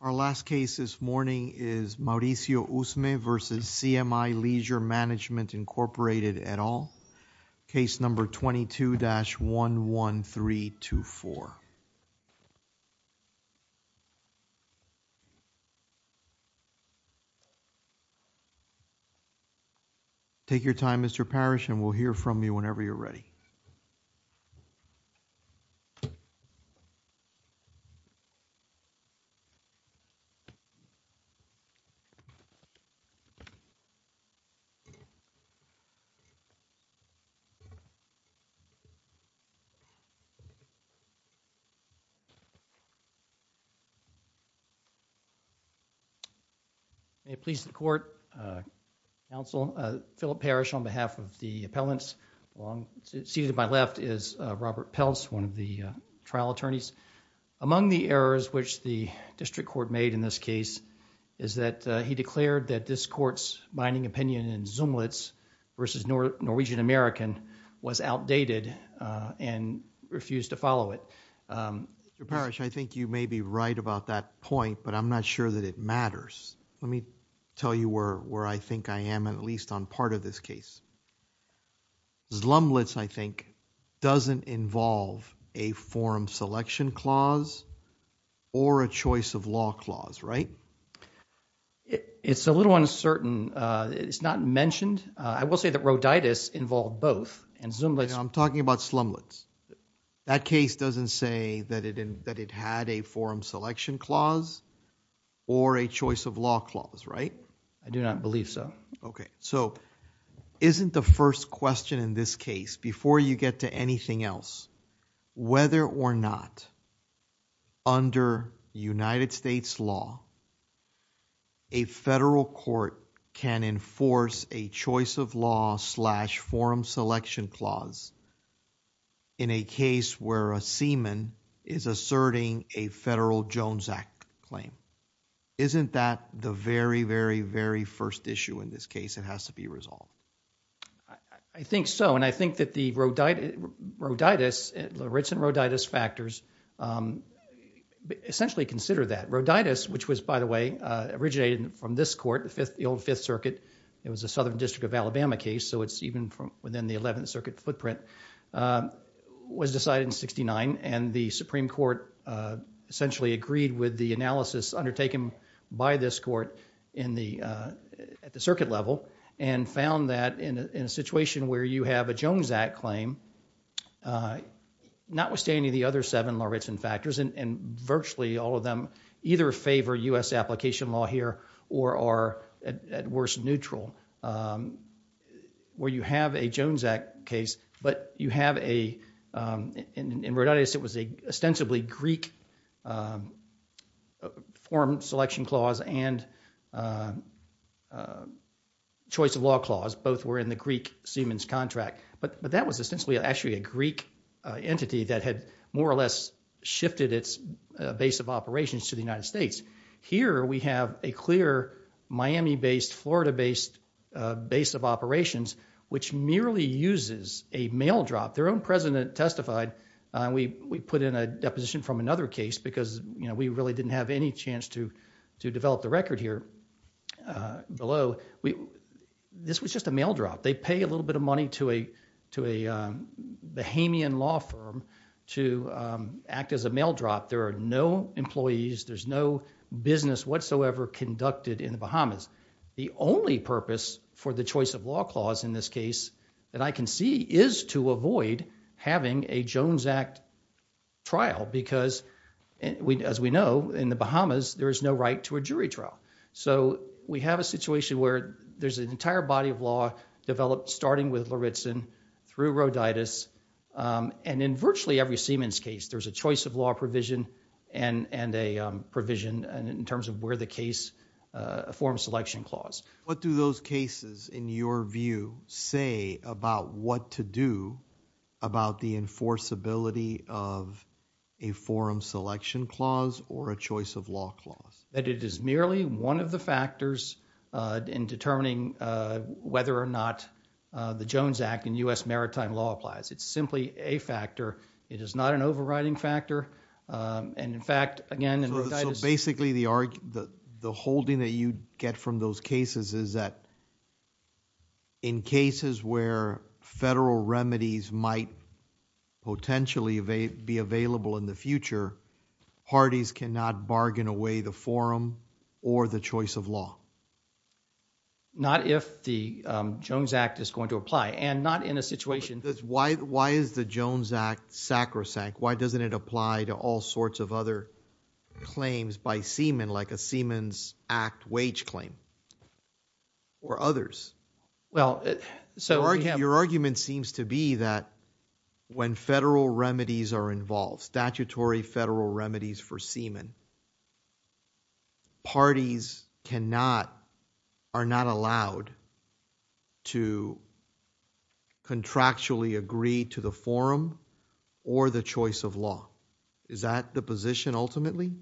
Our last case this morning is Mauricio Usme v. CMI Leisure Management, Inc., et al. Case number 22-11324. Take your time, Mr. Parrish, and we'll hear from you whenever you're ready. May it please the Court, Philip Parrish on behalf of the appellants, seated to my left is Robert Peltz, one of the trial attorneys. Among the errors which the district court made in this case is that he declared that this Court's binding opinion in Zumlitz v. Norwegian American was outdated and refused to follow it. Mr. Parrish, I think you may be right about that point, but I'm not sure that it matters. Let me tell you where I think I am, at least on part of this case. Zumlitz, I think, doesn't involve a forum selection clause or a choice of law clause, right? It's a little uncertain. It's not mentioned. I will say that Rhoditis involved both, and Zumlitz I'm talking about Zumlitz. That case doesn't say that it had a forum selection clause or a choice of law clause, right? I do not believe so. Okay. So, isn't the first question in this case, before you get to anything else, whether or not under United States law, a federal court can enforce a choice of law slash forum selection clause in a case where a seaman is asserting a federal Jones Act claim. Isn't that the very, very, very first issue in this case that has to be resolved? I think so. I think that the Rhoditis, the Richardson-Rhoditis factors essentially consider that. Rhoditis, which was, by the way, originated from this court, the old Fifth Circuit. It was a Southern District of Alabama case, so it's even within the Eleventh Circuit footprint, was decided in 1969, and the Supreme Court essentially agreed with the analysis undertaken by this court at the circuit level and found that in a situation where you have a Jones Act claim, notwithstanding the other seven Lawritson factors, and virtually all of them either favor U.S. application law here or are at worst neutral, where you have a Jones Act case, but you have a, in Rhoditis, it was an ostensibly Greek forum selection clause and choice of law clause, both were in the Greek seaman's contract, but that was to the United States. Here we have a clear Miami-based, Florida-based base of operations, which merely uses a mail drop. Their own president testified, we put in a deposition from another case because we really didn't have any chance to develop the record here below. This was just a mail drop. They pay a little bit of money to a Bahamian law firm to act as a mail drop. There are no employees, there's no business whatsoever conducted in the Bahamas. The only purpose for the choice of law clause in this case that I can see is to avoid having a Jones Act trial because, as we know, in the Bahamas, there is no right to a jury trial. We have a situation where there's an entire body of law developed starting with Lawritson through Rhoditis, and in virtually every seaman's case, there's a choice of law provision and a provision in terms of where the case, a forum selection clause. What do those cases, in your view, say about what to do about the enforceability of a forum selection clause or a choice of law clause? That it is merely one of the factors in determining whether or not the Jones Act in U.S. maritime law applies. It's simply a factor. It is not an overriding factor, and in fact, again, in Rhoditis... Basically, the holding that you get from those cases is that in cases where federal remedies might potentially be available in the future, parties cannot bargain away the forum or the choice of law. Not if the Jones Act is going to apply, and not in a situation... Why is the Jones Act sacrosanct? Why doesn't it apply to all sorts of other claims by seamen, like a Seaman's Act wage claim or others? Your argument seems to be that when federal remedies are involved, statutory federal remedies for seamen, parties are not allowed to contractually agree to the forum or the choice of law. Is that the position ultimately?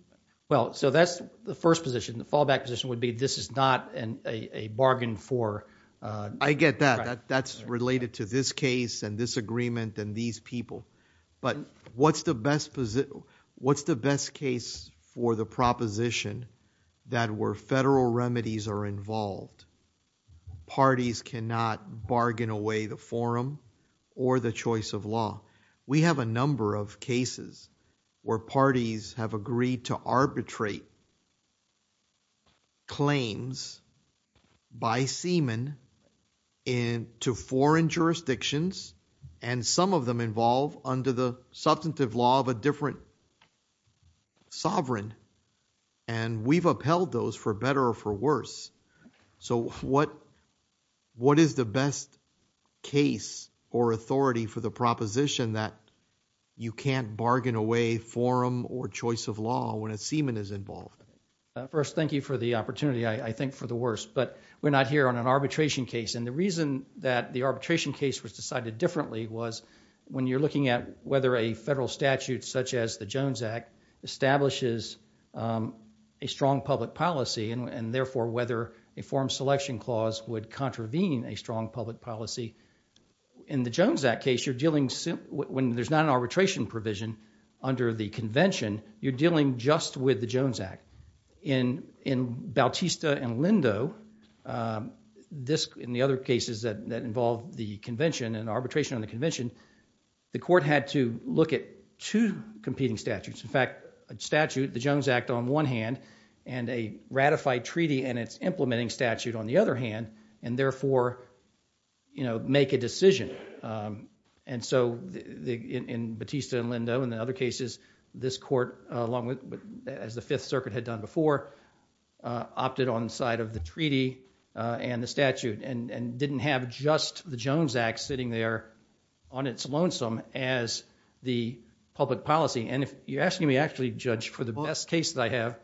That's the first position. The fallback position would be this is not a bargain for... I get that. That's related to this case and this agreement and these people, but what's the best case for the proposition that where federal remedies are involved, parties cannot bargain away the forum or the choice of law? We have a number of cases where parties have agreed to arbitrate claims by seamen to foreign jurisdictions and some of them involve under the substantive law of a different sovereign. We've upheld those for better or for worse. What is the best case or authority for the proposition that you can't bargain away forum or choice of law when a seaman is involved? First, thank you for the opportunity. I think for the worst, but we're not here on an arbitration case. The reason that the arbitration case was decided differently was when you're looking at whether a federal statute such as the Jones Act establishes a strong public policy and therefore, whether a forum selection clause would contravene a strong public policy. In the Jones Act case, when there's not an arbitration provision under the convention, you're dealing just with the Jones Act. In Bautista and Lindo, in the other cases that involve the convention and arbitration on the convention, the court had to look at two competing statutes. In fact, a statute, the Jones Act on one hand and a ratified treaty and its implementing statute on the other hand and therefore, make a decision. In Bautista and Lindo and the other cases, this court along with as the Fifth Circuit had done before, opted on the side of the treaty and the statute and didn't have just the Jones Act sitting there on its lonesome as the public policy. You're asking me actually, Judge, for the best case that I have.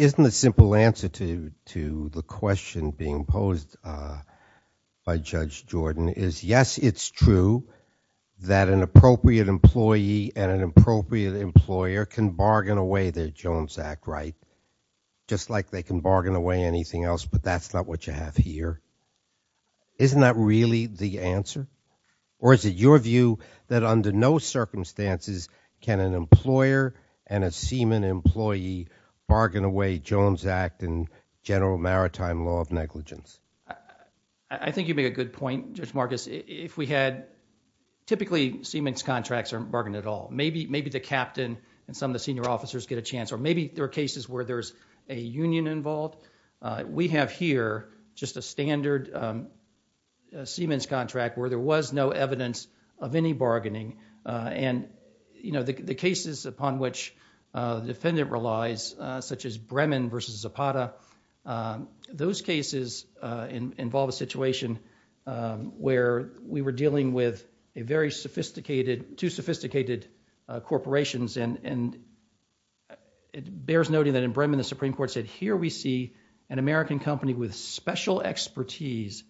Isn't the simple answer to the question being posed by Judge Jordan is yes, it's true that an appropriate employee and an appropriate employer can bargain away their Jones Act right just like they can bargain away anything else but that's not what you have here. Isn't that really the answer? Or is it your view that under no circumstances can an employer and a seaman employee bargain away Jones Act and general maritime law of negligence? I think you made a good point, Judge Marcus. If we had, typically, seaman's contracts aren't bargained at all. Maybe the captain and some of the senior officers get a chance or maybe there are cases where there's a union involved. We have here just a standard seaman's contract where there was no evidence of any bargaining. The cases upon which defendant relies such as Bremen versus Zapata, those cases involve a situation where we were dealing with two sophisticated corporations and it bears noting that in Bremen, the Supreme Court said, here we see an American company with special expertise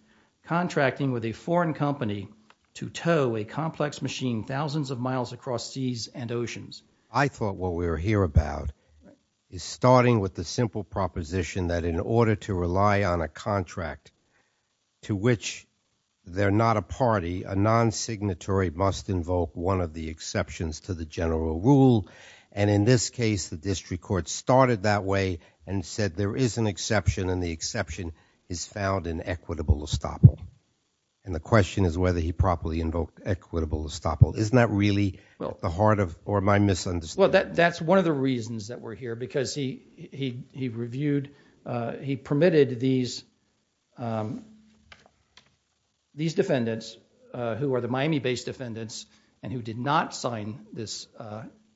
contracting with a foreign company to tow a complex machine thousands of miles across seas and oceans. I thought what we were here about is starting with the simple proposition that in order to rely on a contract to which they're not a party, a non-signatory must invoke one of the exceptions to the general rule. In this case, the district court started that way and said there is an exception and the exception is found in equitable estoppel. The question is whether he properly invoked equitable estoppel. Isn't that really the heart of or my misunderstanding? That's one of the reasons that we're here because he reviewed, he permitted these defendants who are the Miami-based defendants and who did not sign this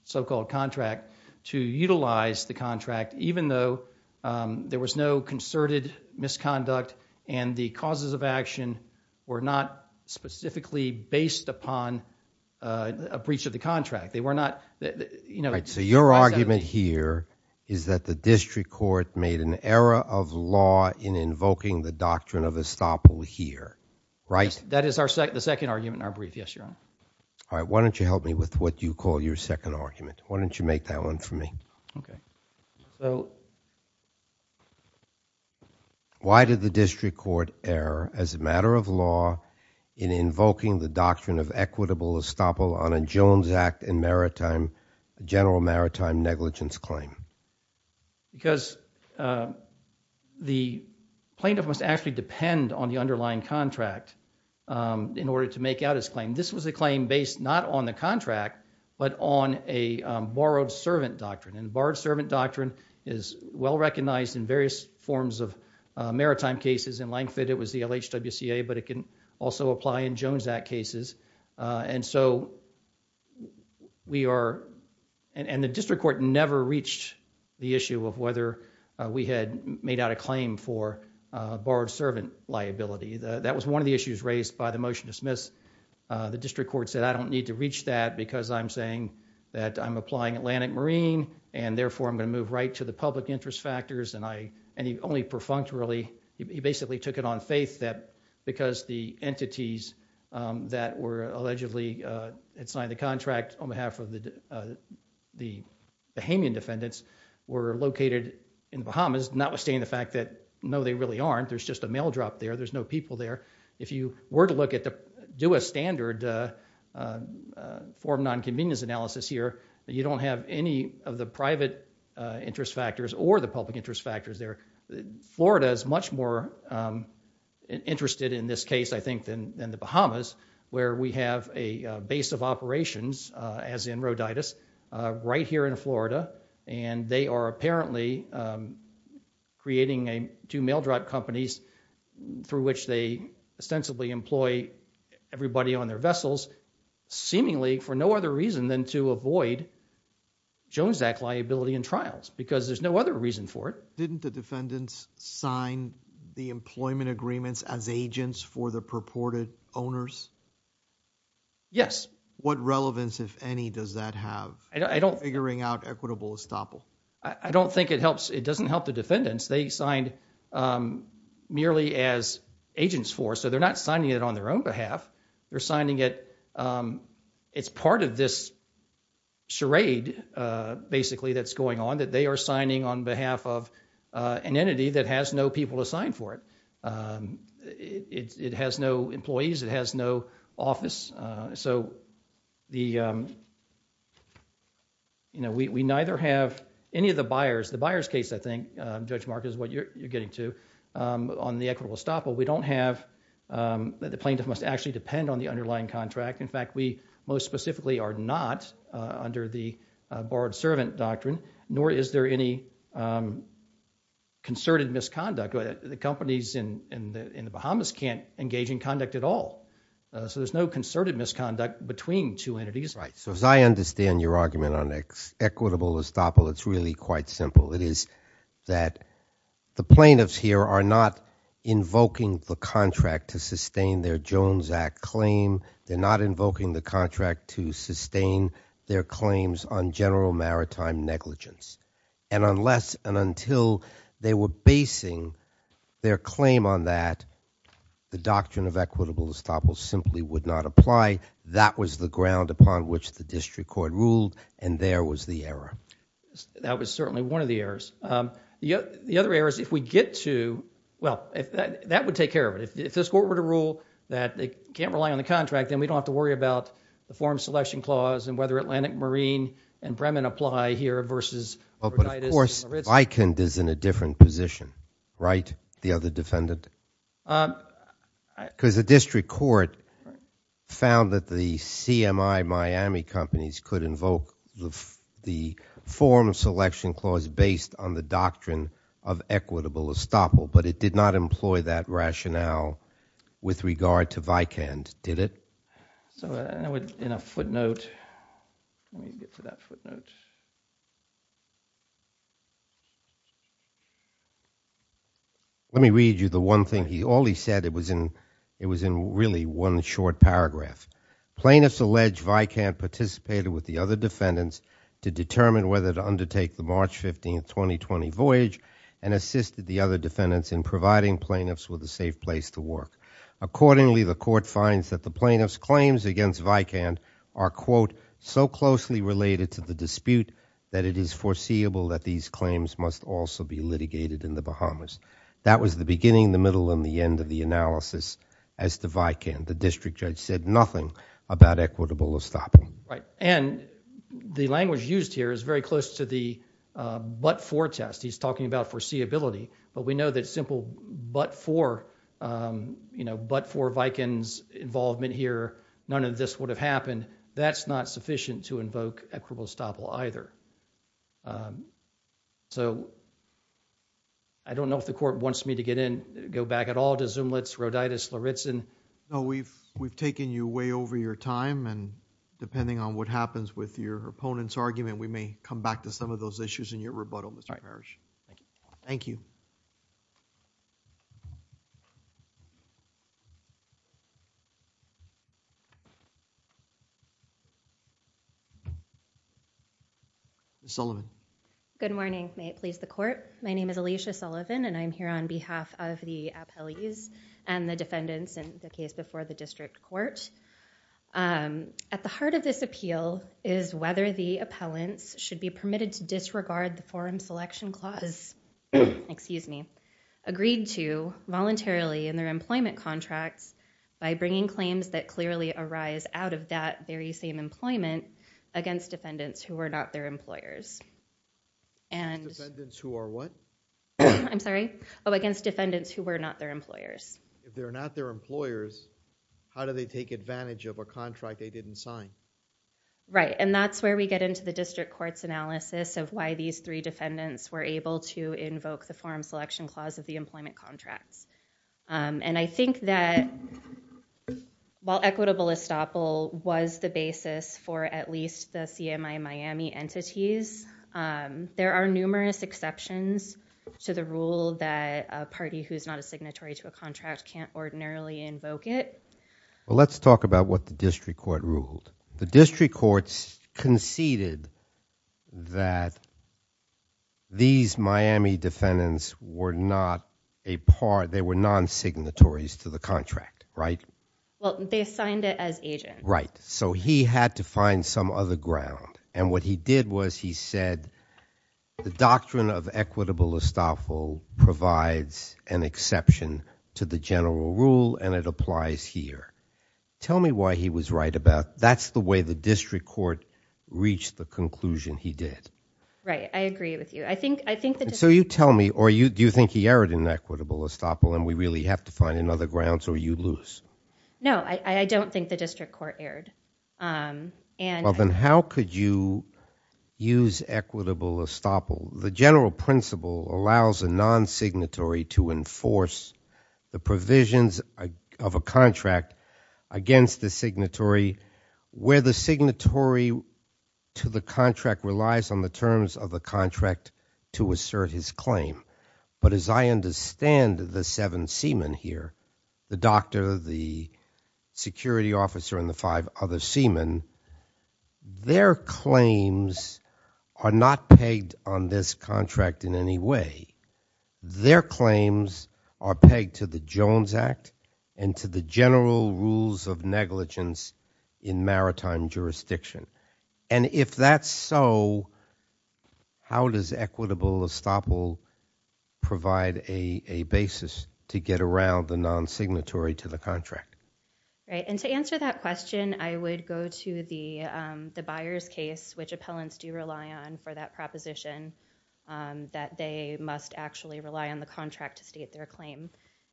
so-called contract to utilize the contract even though there was no concerted misconduct and the causes of action were not specifically based upon a breach of the contract. They were not, you know. So your argument here is that the district court made an error of law in invoking the doctrine of estoppel here, right? That is the second argument in our brief. Yes, Your Honor. All right. Why don't you help me with what you call your second argument? Why don't you make that one for me? Why did the district court err as a matter of law in invoking the doctrine of equitable estoppel on a Jones Act and maritime, general maritime negligence claim? Because the plaintiff must actually depend on the underlying contract in order to make out his claim. This was a claim based not on the contract but on a borrowed servant doctrine and borrowed servant doctrine is well recognized in various forms of maritime cases. In Langford, it was the LHWCA but it can also apply in Jones Act cases and so we are, and the issue of whether we had made out a claim for borrowed servant liability. That was one of the issues raised by the motion to dismiss. The district court said I don't need to reach that because I'm saying that I'm applying Atlantic Marine and therefore I'm going to move right to the public interest factors and I, and he only perfunctorily, he basically took it on faith that because the entities that were allegedly, had signed the contract on behalf of the Bahamian defendants were located in the Bahamas, notwithstanding the fact that no, they really aren't, there's just a mail drop there, there's no people there. If you were to look at the, do a standard form of non-convenience analysis here, you don't have any of the private interest factors or the public interest factors there. Florida is much more interested in this case I think than the Bahamas where we have a base of operations as in Rhoditis right here in Florida and they are apparently creating two mail drop companies through which they ostensibly employ everybody on their vessels, seemingly for no other reason than to avoid Jones Act liability in trials because there's no other reason for it. Didn't the defendants sign the employment agreements as agents for the purported owners? Yes. What relevance, if any, does that have in figuring out equitable estoppel? I don't think it helps, it doesn't help the defendants. They signed merely as agents for, so they're not signing it on their own behalf, they're signing it, it's part of this charade basically that's going on, that they are signing on behalf of an entity that has no people assigned for it. It has no employees, it has no office, so we neither have any of the buyers, the buyers case I think, Judge Mark is what you're getting to, on the equitable estoppel. We don't have, the plaintiff must actually depend on the underlying contract, in fact we most specifically are not under the borrowed servant doctrine, nor is there any concerted misconduct. The companies in the Bahamas can't engage in conduct at all, so there's no concerted misconduct between two entities. Right, so as I understand your argument on equitable estoppel, it's really quite simple. It is that the plaintiffs here are not invoking the contract to sustain their Jones Act claim, they're not invoking the contract to sustain their claims on general maritime negligence. And unless and until they were basing their claim on that, the doctrine of equitable estoppel simply would not apply. That was the ground upon which the district court ruled and there was the error. That was certainly one of the errors. The other error is if we get to, well, that would take care of it. If this court were to rule that it can't rely on the contract, then we don't have to worry about the form selection clause and whether Atlantic Marine and Bremen apply here versus Rhode Island. But of course, Vikund is in a different position, right? The other defendant? Because the district court found that the CMI Miami companies could invoke the form selection clause based on the doctrine of equitable estoppel, but it did not employ that rationale with regard to Vikund, did it? So in a footnote, let me get to that footnote. Let me read you the one thing, all he said, it was in really one short paragraph. Plaintiffs allege Vikund participated with the other defendants to determine whether to undertake the March 15th, 2020 voyage and assisted the other defendants in providing plaintiffs with a safe place to work. Accordingly, the court finds that the plaintiff's claims against Vikund are, quote, so closely related to the dispute that it is foreseeable that these claims must also be litigated in the Bahamas. That was the beginning, the middle, and the end of the analysis as to Vikund. The district judge said nothing about equitable estoppel. And the language used here is very close to the but-for test. He's talking about foreseeability, but we know that simple but-for, you know, but-for Vikund's involvement here, none of this would have happened. That's not sufficient to invoke equitable estoppel either. So I don't know if the court wants me to get in, go back at all to Zumlitz, Roditis, Loritzen. No, we've taken you way over your time, and depending on what happens with your opponent's argument, we may come back to some of those issues in your rebuttal, Mr. Hirsch. Thank you. Ms. Sullivan. Good morning. May it please the court. My name is Alicia Sullivan, and I'm here on behalf of the appellees and the defendants in the case before the district court. At the heart of this appeal is whether the appellants should be permitted to disregard the forum selection clause, excuse me, agreed to voluntarily in their employment contracts by bringing claims that clearly arise out of that very same employment against defendants who were not their employers. Defendants who are what? I'm sorry? Oh, against defendants who were not their employers. If they're not their employers, how do they take advantage of a contract they didn't sign? Right, and that's where we get into the district court's analysis of why these three defendants were able to invoke the forum selection clause of the employment contracts. And I think that while equitable estoppel was the basis for at least the CMI Miami entities, there are numerous exceptions to the rule that a party who's not a signatory to a contract can't ordinarily invoke it. Well, let's talk about what the district court ruled. The district courts conceded that these Miami defendants were not a part, they were non-signatories to the contract, right? Well, they assigned it as agent. Right. So he had to find some other ground. And what he did was he said, the doctrine of equitable estoppel provides an exception to the general rule and it applies here. Tell me why he was right about that's the way the district court reached the conclusion he did. Right, I agree with you. I think the district court- So you tell me, or do you think he erred in equitable estoppel and we really have to find another ground so you lose? No, I don't think the district court erred. Well, then how could you use equitable estoppel? The general principle allows a non-signatory to enforce the provisions of a contract against the signatory where the signatory to the contract relies on the terms of the contract to assert his claim. But as I understand the seven seamen here, the doctor, the security officer and the five other seamen, their claims are not pegged on this contract in any way. Their claims are pegged to the Jones Act and to the general rules of negligence in maritime jurisdiction. And if that's so, how does equitable estoppel provide a basis to get around the non-signatory to the contract? Right, and to answer that question I would go to the Byers case which appellants do rely on for that proposition that they must actually rely on the contract to state their claim.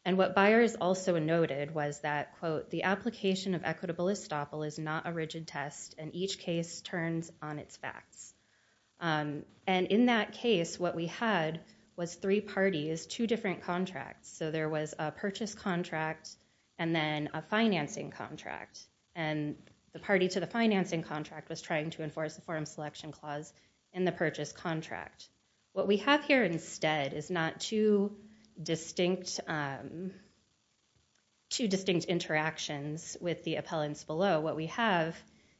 And what Byers also noted was that, quote, the application of equitable estoppel is not a rigid test and each case turns on its facts. And in that case what we had was three parties, two different contracts. So there was a purchase contract and then a financing contract. And the party to the financing contract was trying to enforce the forum selection clause in the purchase contract. What we have here instead is not two distinct interactions with the appellants below. What we have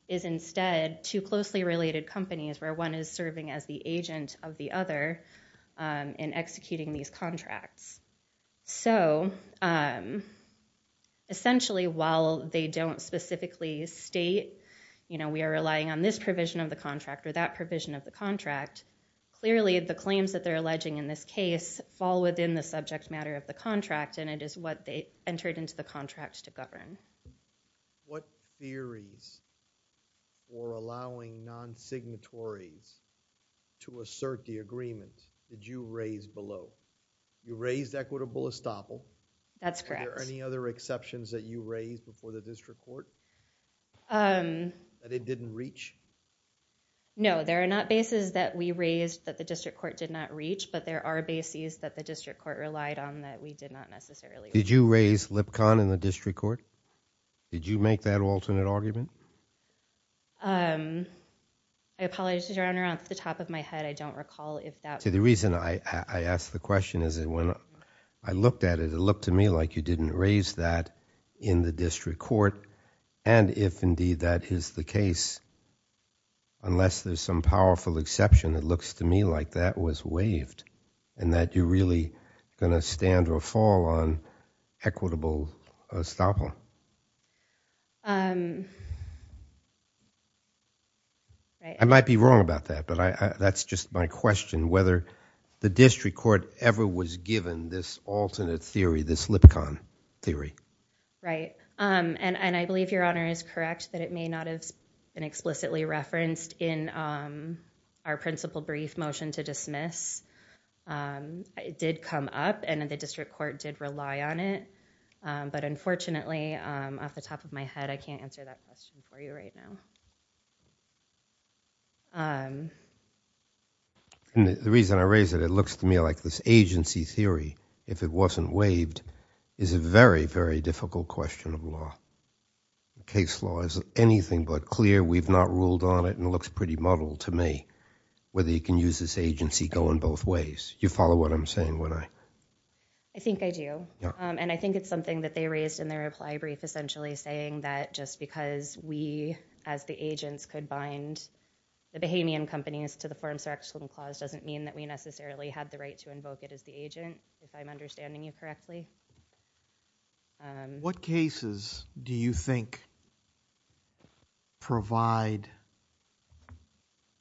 is instead two closely related companies where one is serving as the agent of the other in executing these contracts. So essentially while they don't specifically state, you know, we are relying on this provision of the contract or that provision of the contract, clearly the claims that they're alleging in this case fall within the subject matter of the contract and it is what they entered into the contract to govern. What theories for allowing non-signatories to assert the agreement did you raise below? You raised equitable estoppel. That's correct. Are there any other exceptions that you raised before the district court that it didn't reach? No, there are not bases that we raised that the district court did not reach, but there are bases that the district court relied on that we did not necessarily. Did you raise LIPCON in the district court? Did you make that alternate argument? I apologize, Your Honor. Off the top of my head, I don't recall if that... See, the reason I ask the question is that when I looked at it, it looked to me like you didn't raise that in the district court and if indeed that is the case, unless there's some powerful exception, it looks to me like that was waived and that you're really going to stand or fall on equitable estoppel. I might be wrong about that, but that's just my question, whether the district court ever was given this alternate theory, this LIPCON theory. Right, and I believe Your Honor is correct that it may not have been explicitly referenced in our principal brief motion to dismiss. It did come up and the district court did rely on it, but unfortunately, off the top of my head, I can't answer that question for you right now. The reason I raise it, it looks to me like this agency theory, if it wasn't waived, is a very, very difficult question of law. Case law is anything but clear. We've not ruled on it and it looks pretty muddled to me, whether you can use this agency going both ways. You follow what I'm saying, would I? I think I do and I think it's something that they raised in their reply brief essentially saying that just because we as the agents could bind the Bahamian companies to the Forms of Action Clause doesn't mean that we necessarily have the right to invoke it as the agent, if I'm understanding you correctly. What cases do you think provide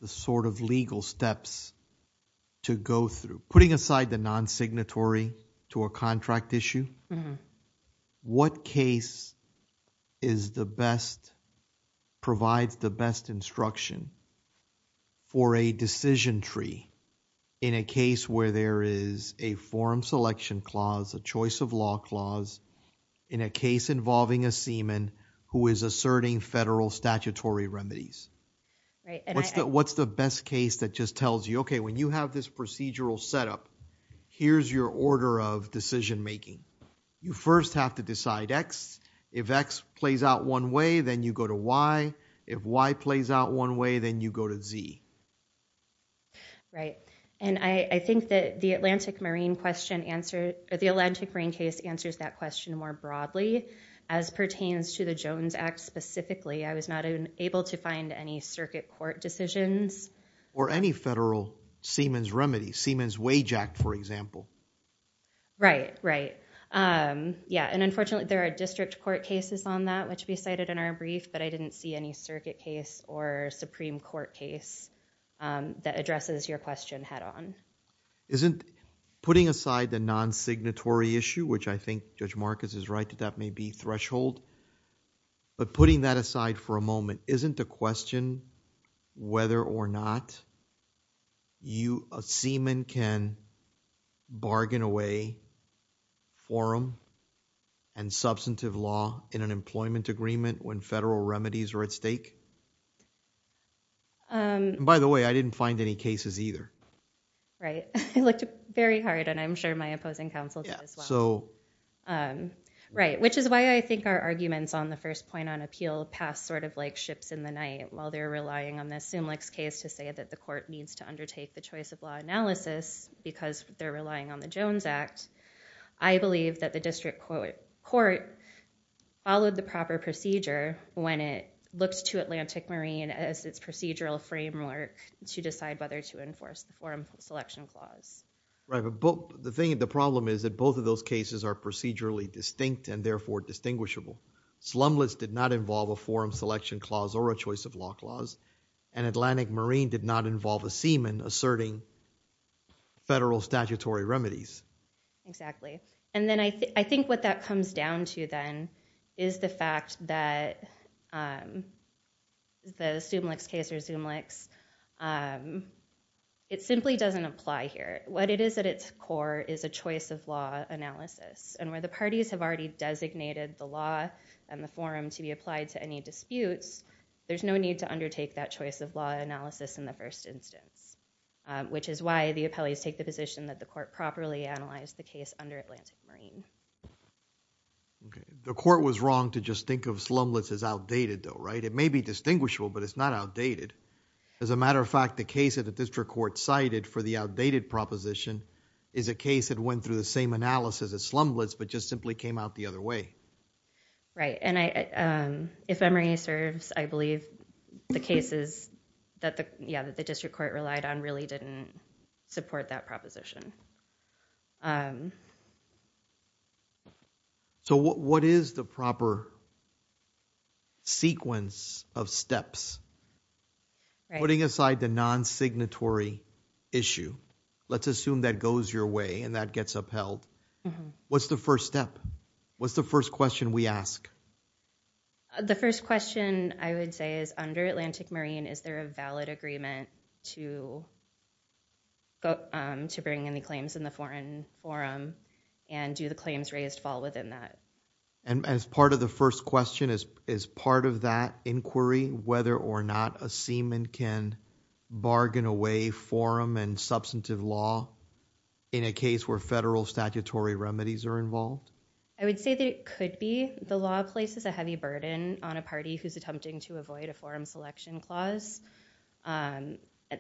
the sort of legal steps to go through? Putting aside the non-signatory to a contract issue, what case is the best, provides the best instruction for a decision tree in a case where there is a form selection clause, a choice of law clause in a case involving a seaman who is asserting federal statutory remedies? What's the best case that just tells you, okay, when you have this procedural setup, here's your order of decision making. You first have to decide X. If X plays out one way, then you go to Y. If Y plays out one way, then you go to Z. Right, and I think that the Atlantic Marine case answers that question more broadly as pertains to the Jones Act specifically. I was not able to find any circuit court decisions. Or any federal seaman's remedy, Seaman's Wage Act, for example. Right, right. Yeah, and unfortunately there are district court cases on that which we cited in our case that addresses your question head on. Isn't putting aside the non-signatory issue, which I think Judge Marcus is right that that may be threshold, but putting that aside for a moment, isn't the question whether or not a seaman can bargain away forum and substantive law in an employment agreement when federal remedies are at stake? By the way, I didn't find any cases either. Right. I looked very hard and I'm sure my opposing counsel did as well. Yeah, so. Right, which is why I think our arguments on the first point on appeal pass sort of like ships in the night while they're relying on this Sumlich's case to say that the court needs to undertake the choice of law analysis because they're relying on the Jones Act. I believe that the district court followed the proper procedure when it looks to Atlantic Marine as its procedural framework to decide whether to enforce the Forum Selection Clause. Right, but the thing, the problem is that both of those cases are procedurally distinct and therefore distinguishable. Slumless did not involve a Forum Selection Clause or a choice of law clause and Atlantic Marine did not involve a seaman asserting federal statutory remedies. Exactly. And then I think what that comes down to then is the fact that the Sumlich's case or Sumlich's, it simply doesn't apply here. What it is at its core is a choice of law analysis and where the parties have already designated the law and the forum to be applied to any disputes, there's no need to undertake that choice of law analysis in the first instance which is why the appellees take the position that the court properly analyzed the case under Atlantic Marine. Okay. The court was wrong to just think of slumless as outdated though, right? It may be distinguishable but it's not outdated. As a matter of fact, the case that the district court cited for the outdated proposition is a case that went through the same analysis as slumless but just simply came out the other way. Right. And if memory serves, I believe the cases that the, yeah, the district court relied on really didn't support that proposition. So what is the proper sequence of steps? Right. Putting aside the non-signatory issue, let's assume that goes your way and that gets upheld, what's the first step? What's the first question we ask? The first question I would say is under Atlantic Marine, is there a valid agreement to bring in the claims in the foreign forum and do the claims raised fall within that? And as part of the first question, is part of that inquiry whether or not a seaman can bargain away forum and substantive law in a case where federal statutory remedies are involved? I would say that it could be. The law places a heavy burden on a party who's attempting to avoid a forum selection clause.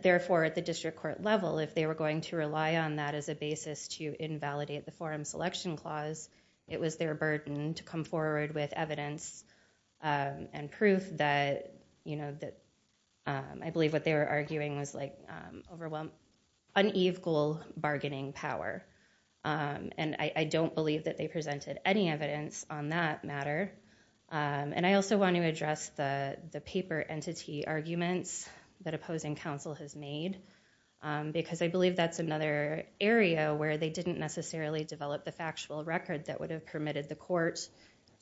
Therefore, at the district court level, if they were going to rely on that as a basis to invalidate the forum selection clause, it was their burden to come forward with evidence and proof that, you know, I believe what they were arguing was like unethical bargaining power. And I don't believe that they presented any evidence on that matter. And I also want to address the paper entity arguments that opposing counsel has made because I believe that's another area where they didn't necessarily develop the factual record that would have permitted the court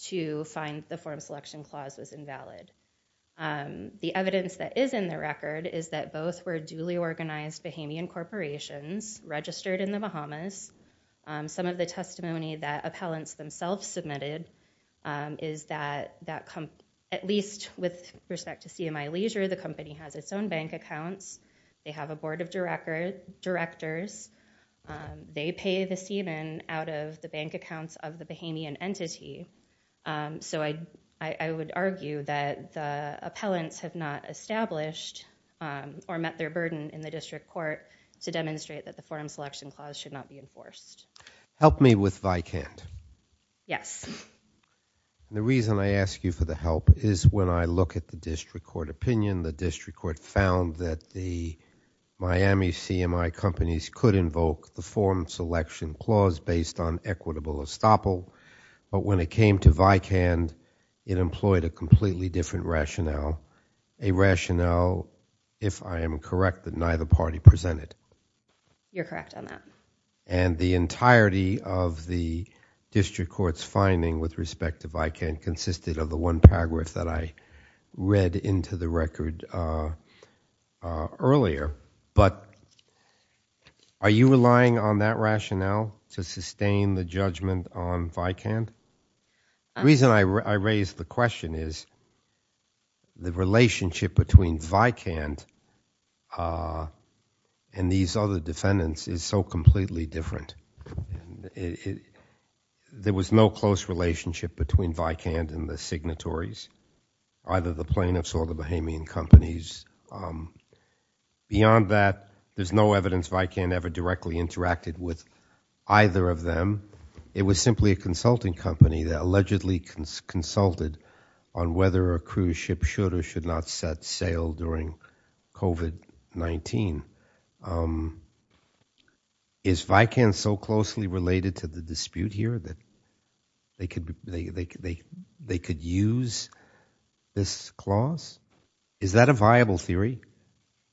to find the forum selection clause was invalid. The evidence that is in the record is that both were duly organized Bahamian corporations registered in the Bahamas. Some of the testimony that appellants themselves submitted is that at least with respect to CMI Leisure, the company has its own bank accounts. They have a board of directors. They pay the seaman out of the bank accounts of the Bahamian entity. So I would argue that the appellants have not established or met their burden in the district court to demonstrate that the forum selection clause should not be enforced. Help me with Vycand. Yes. The reason I ask you for the help is when I look at the district court opinion, the district court found that the Miami CMI companies could invoke the forum selection clause based on equitable estoppel. But when it came to Vycand, it employed a completely different rationale. A rationale, if I am correct, that neither party presented. You're correct on that. And the entirety of the district court's finding with respect to Vycand consisted of the one paragraph that I read into the record earlier. But are you relying on that rationale to sustain the judgment on Vycand? The reason I raise the question is the relationship between Vycand and these other defendants is so completely different. There was no close relationship between Vycand and the signatories, either the plaintiffs or the Bahamian companies. Beyond that, there's no evidence Vycand ever directly interacted with either of them. It was simply a consulting company that allegedly consulted on whether a cruise ship should or should not set sail during COVID-19. Is Vycand so closely related to the dispute here that they could use this clause? Is that a viable theory?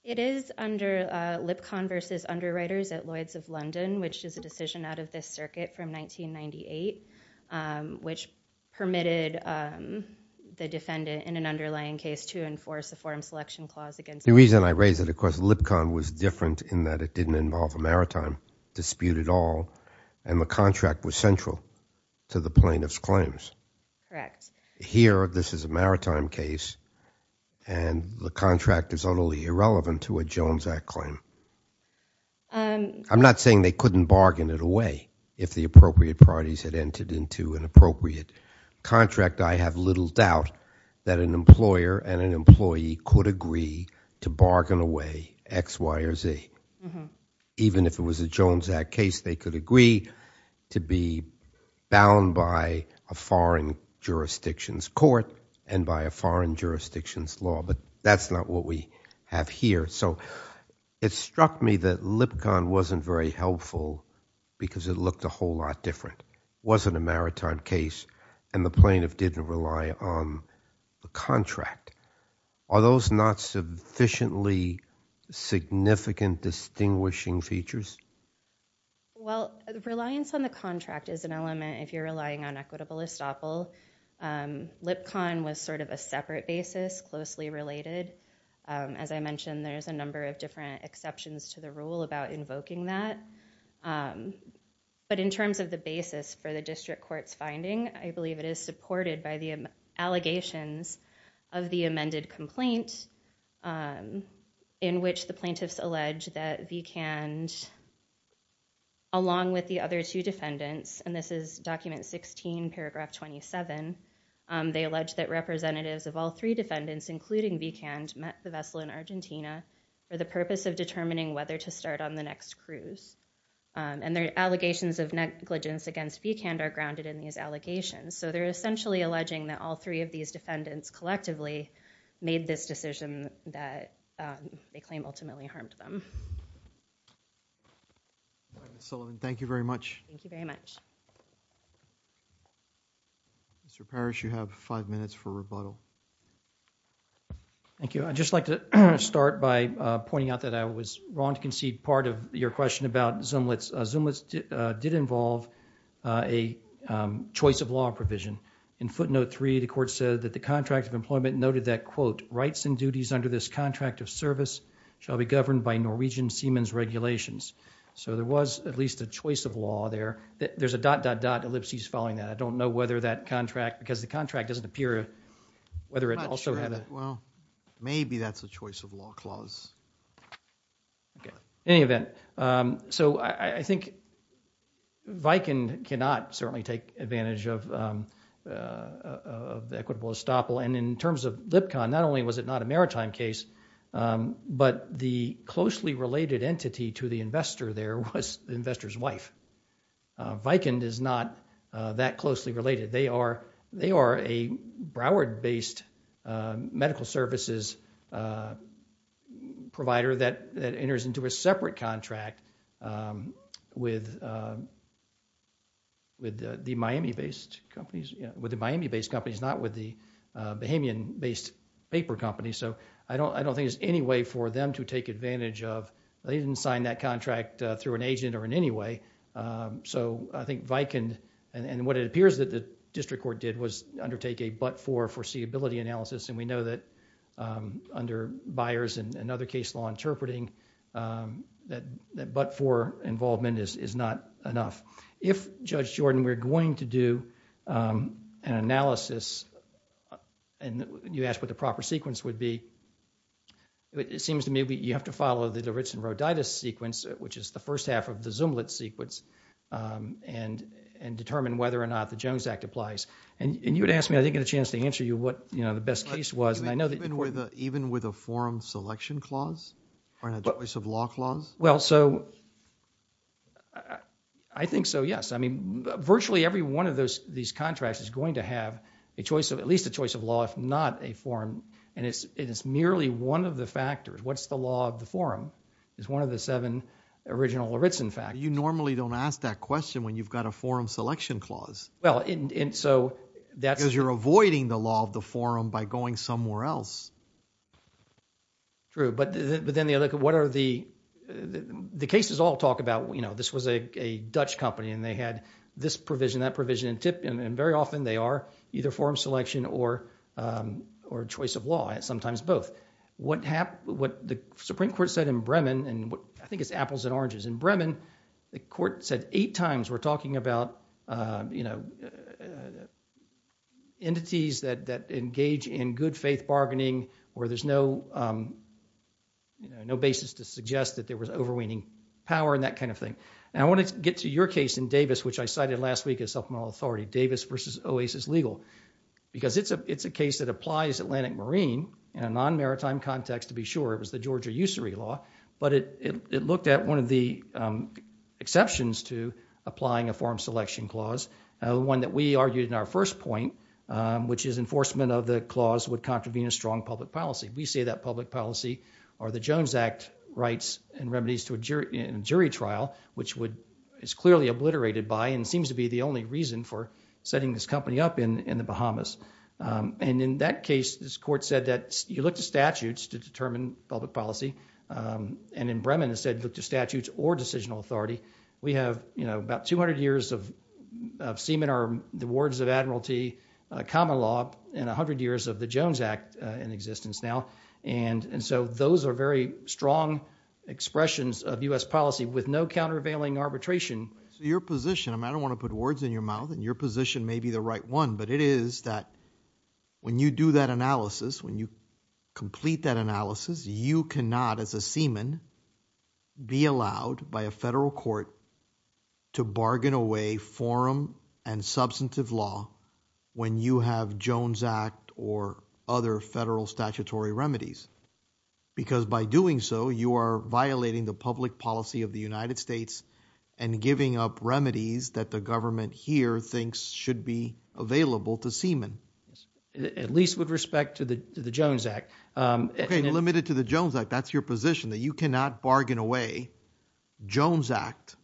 It is under Lipcon versus Underwriters at Lloyd's of London, which is a decision out of this circuit from 1998, which permitted the defendant in an underlying case to enforce a forum selection clause against Vycand. The reason I raise it, of course, Lipcon was different in that it didn't involve a maritime dispute at all, and the contract was central to the plaintiff's claims. Correct. Here, this is a maritime case, and the contract is only irrelevant to a Jones Act claim. I'm not saying they couldn't bargain it away if the appropriate parties had entered into an appropriate contract. I have little doubt that an employer and an employee could agree to bargain away X, Y, or Z. Even if it was a Jones Act case, they could agree to be bound by a foreign jurisdiction's court and by a foreign jurisdiction's law, but that's not what we have here. So it struck me that Lipcon wasn't very helpful because it looked a whole lot different. It wasn't a maritime case, and the plaintiff didn't rely on the contract. Are those not sufficiently significant distinguishing features? Well, reliance on the contract is an element if you're relying on equitable estoppel. Lipcon was sort of a separate basis, closely related. As I mentioned, there's a number of different exceptions to the rule about invoking that, but in terms of the basis for the district court's finding, I believe it is supported by the allegations of the amended complaint in which the plaintiffs allege that Vicand, along with the other two defendants, and this is document 16, paragraph 27, they allege that representatives of all three defendants, including Vicand, met the vessel in Argentina for the purpose of determining whether to start on the next cruise. And their allegations of negligence against Vicand are grounded in these allegations. So they're essentially alleging that all three of these defendants collectively made this decision that they claim ultimately harmed them. Ms. Sullivan, thank you very much. Thank you very much. Mr. Parrish, you have five minutes for rebuttal. Thank you. I'd just like to start by pointing out that I was wrong to concede part of your question about Zumlitz. Zumlitz did involve a choice of law provision. In footnote three, the court said that the contract of employment noted that, quote, rights and duties under this contract of service shall be governed by Norwegian seamen's regulations. So there was at least a choice of law there. There's a dot, dot, dot ellipses following that. I don't know whether that contract, because the contract doesn't appear whether it also had a- I'm not sure. Well, maybe that's a choice of law clause. Okay. In any event, so I think Vicand cannot certainly take advantage of the equitable estoppel. And in terms of Lipkon, not only was it not a maritime case, but the closely related entity to the investor there was the investor's wife. Vicand is not that closely related. They are a Broward-based medical services provider that enters into a separate contract with the Miami-based companies, not with the Bahamian-based paper company. So I don't think there's any way for them to take advantage of- or an agent or in any way. So I think Vicand, and what it appears that the district court did, was undertake a but-for foreseeability analysis. And we know that under Byers and other case law interpreting, that but-for involvement is not enough. If, Judge Jordan, we're going to do an analysis, and you asked what the proper sequence would be, it seems to me you have to follow the Lawrence and Roditis sequence, which is the first half of the Zumwalt sequence, and determine whether or not the Jones Act applies. And you would ask me, I didn't get a chance to answer you, what the best case was. Even with a forum selection clause or a choice of law clause? Well, so I think so, yes. I mean, virtually every one of these contracts is going to have at least a choice of law, if not a forum. And it's merely one of the factors. What's the law of the forum? It's one of the seven original Lawrence, in fact. You normally don't ask that question when you've got a forum selection clause. Well, and so that's... Because you're avoiding the law of the forum by going somewhere else. True, but then the other, what are the, the cases all talk about, you know, this was a Dutch company, and they had this provision, that provision, and very often they are either forum selection or choice of law, sometimes both. But what the Supreme Court said in Bremen, and I think it's apples and oranges, in Bremen the court said eight times we're talking about, you know, entities that engage in good faith bargaining where there's no, you know, no basis to suggest that there was overweening power and that kind of thing. Now I want to get to your case in Davis, which I cited last week as supplemental authority, Davis versus Oasis legal. Because it's a case that applies Atlantic Marine in a non-maritime context to be sure, it was the Georgia usury law, but it looked at one of the exceptions to applying a forum selection clause, one that we argued in our first point, which is enforcement of the clause would contravene a strong public policy. We say that public policy are the Jones Act rights and remedies to a jury trial, which would, is clearly obliterated by, and seems to be the only reason for setting this company up in the Bahamas. And in that case, this court said that you look to statutes to determine public policy. And in Bremen it said look to statutes or decisional authority. We have, you know, about 200 years of semen, or the words of Admiralty common law, and 100 years of the Jones Act in existence now. And so those are very strong expressions of US policy with no countervailing arbitration. Your position, I don't want to put words in your mouth, and your position may be the right one, but it is that when you do that analysis, when you complete that analysis, you cannot as a semen be allowed by a federal court to bargain away forum and substantive law when you have Jones Act or other federal statutory remedies. Because by doing so, you are violating the public policy of the United States and giving up remedies that the government here thinks should be available to semen. At least with respect to the Jones Act. Okay, limited to the Jones Act. That's your position, that you cannot bargain away Jones Act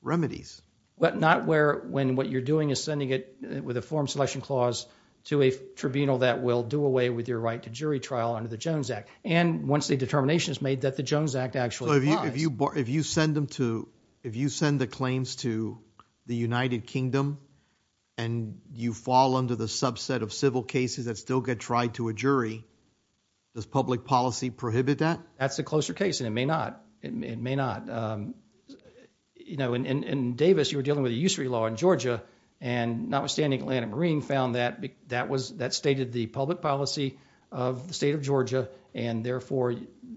remedies. But not when what you're doing is sending it with a forum selection clause to a tribunal that will do away with your right to jury trial under the Jones Act. And once the determination is made that the Jones Act actually applies. If you send them to, if you send the claims to the United Kingdom and you fall under the subset of civil cases that still get tried to a jury, does public policy prohibit that? That's a closer case, and it may not. It may not. You know, in Davis, you were dealing with a usury law in Georgia, and notwithstanding, Atlanta Green found that, that stated the public policy of the state of Georgia, and therefore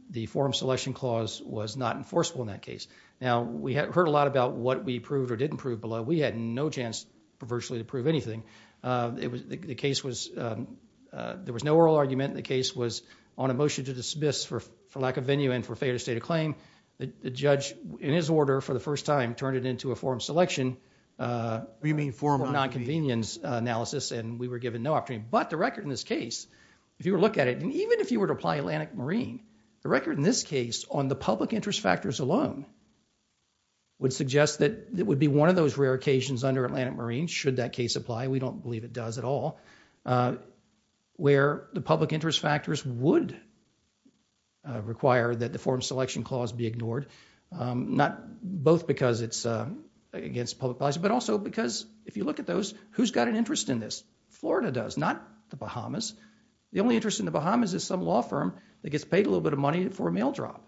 the forum selection clause was not enforceable in that case. Now, we heard a lot about what we proved or didn't prove, but we had no chance virtually to prove anything. The case was, there was no oral argument. The case was on a motion to dismiss for lack of venue and for failure to state a claim. The judge, in his order for the first time, turned it into a forum selection. You mean forum of nonconvenience. Nonconvenience analysis, and we were given no opportunity. But the record in this case, if you were to look at it, and even if you were to apply Atlantic Marine, the record in this case on the public interest factors alone would suggest that it would be one of those rare occasions under Atlantic Marine, should that case apply, we don't believe it does at all, where the public interest factors would require that the forum selection clause be ignored, not both because it's against public policy, but also because if you look at those, who's got an interest in this? Florida does, not the Bahamas. The only interest in the Bahamas is some law firm that gets paid a little bit of money for a mail drop.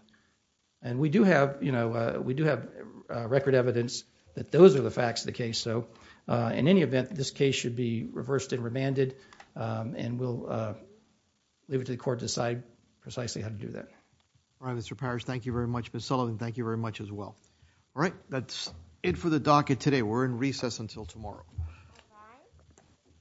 And we do have record evidence that those are the facts of the case. So, in any event, this case should be reversed and remanded, and we'll leave it to the court to decide precisely how to do that. All right, Mr. Powers, thank you very much. Ms. Sullivan, thank you very much as well. All right, that's it for the docket today. We're in recess until tomorrow.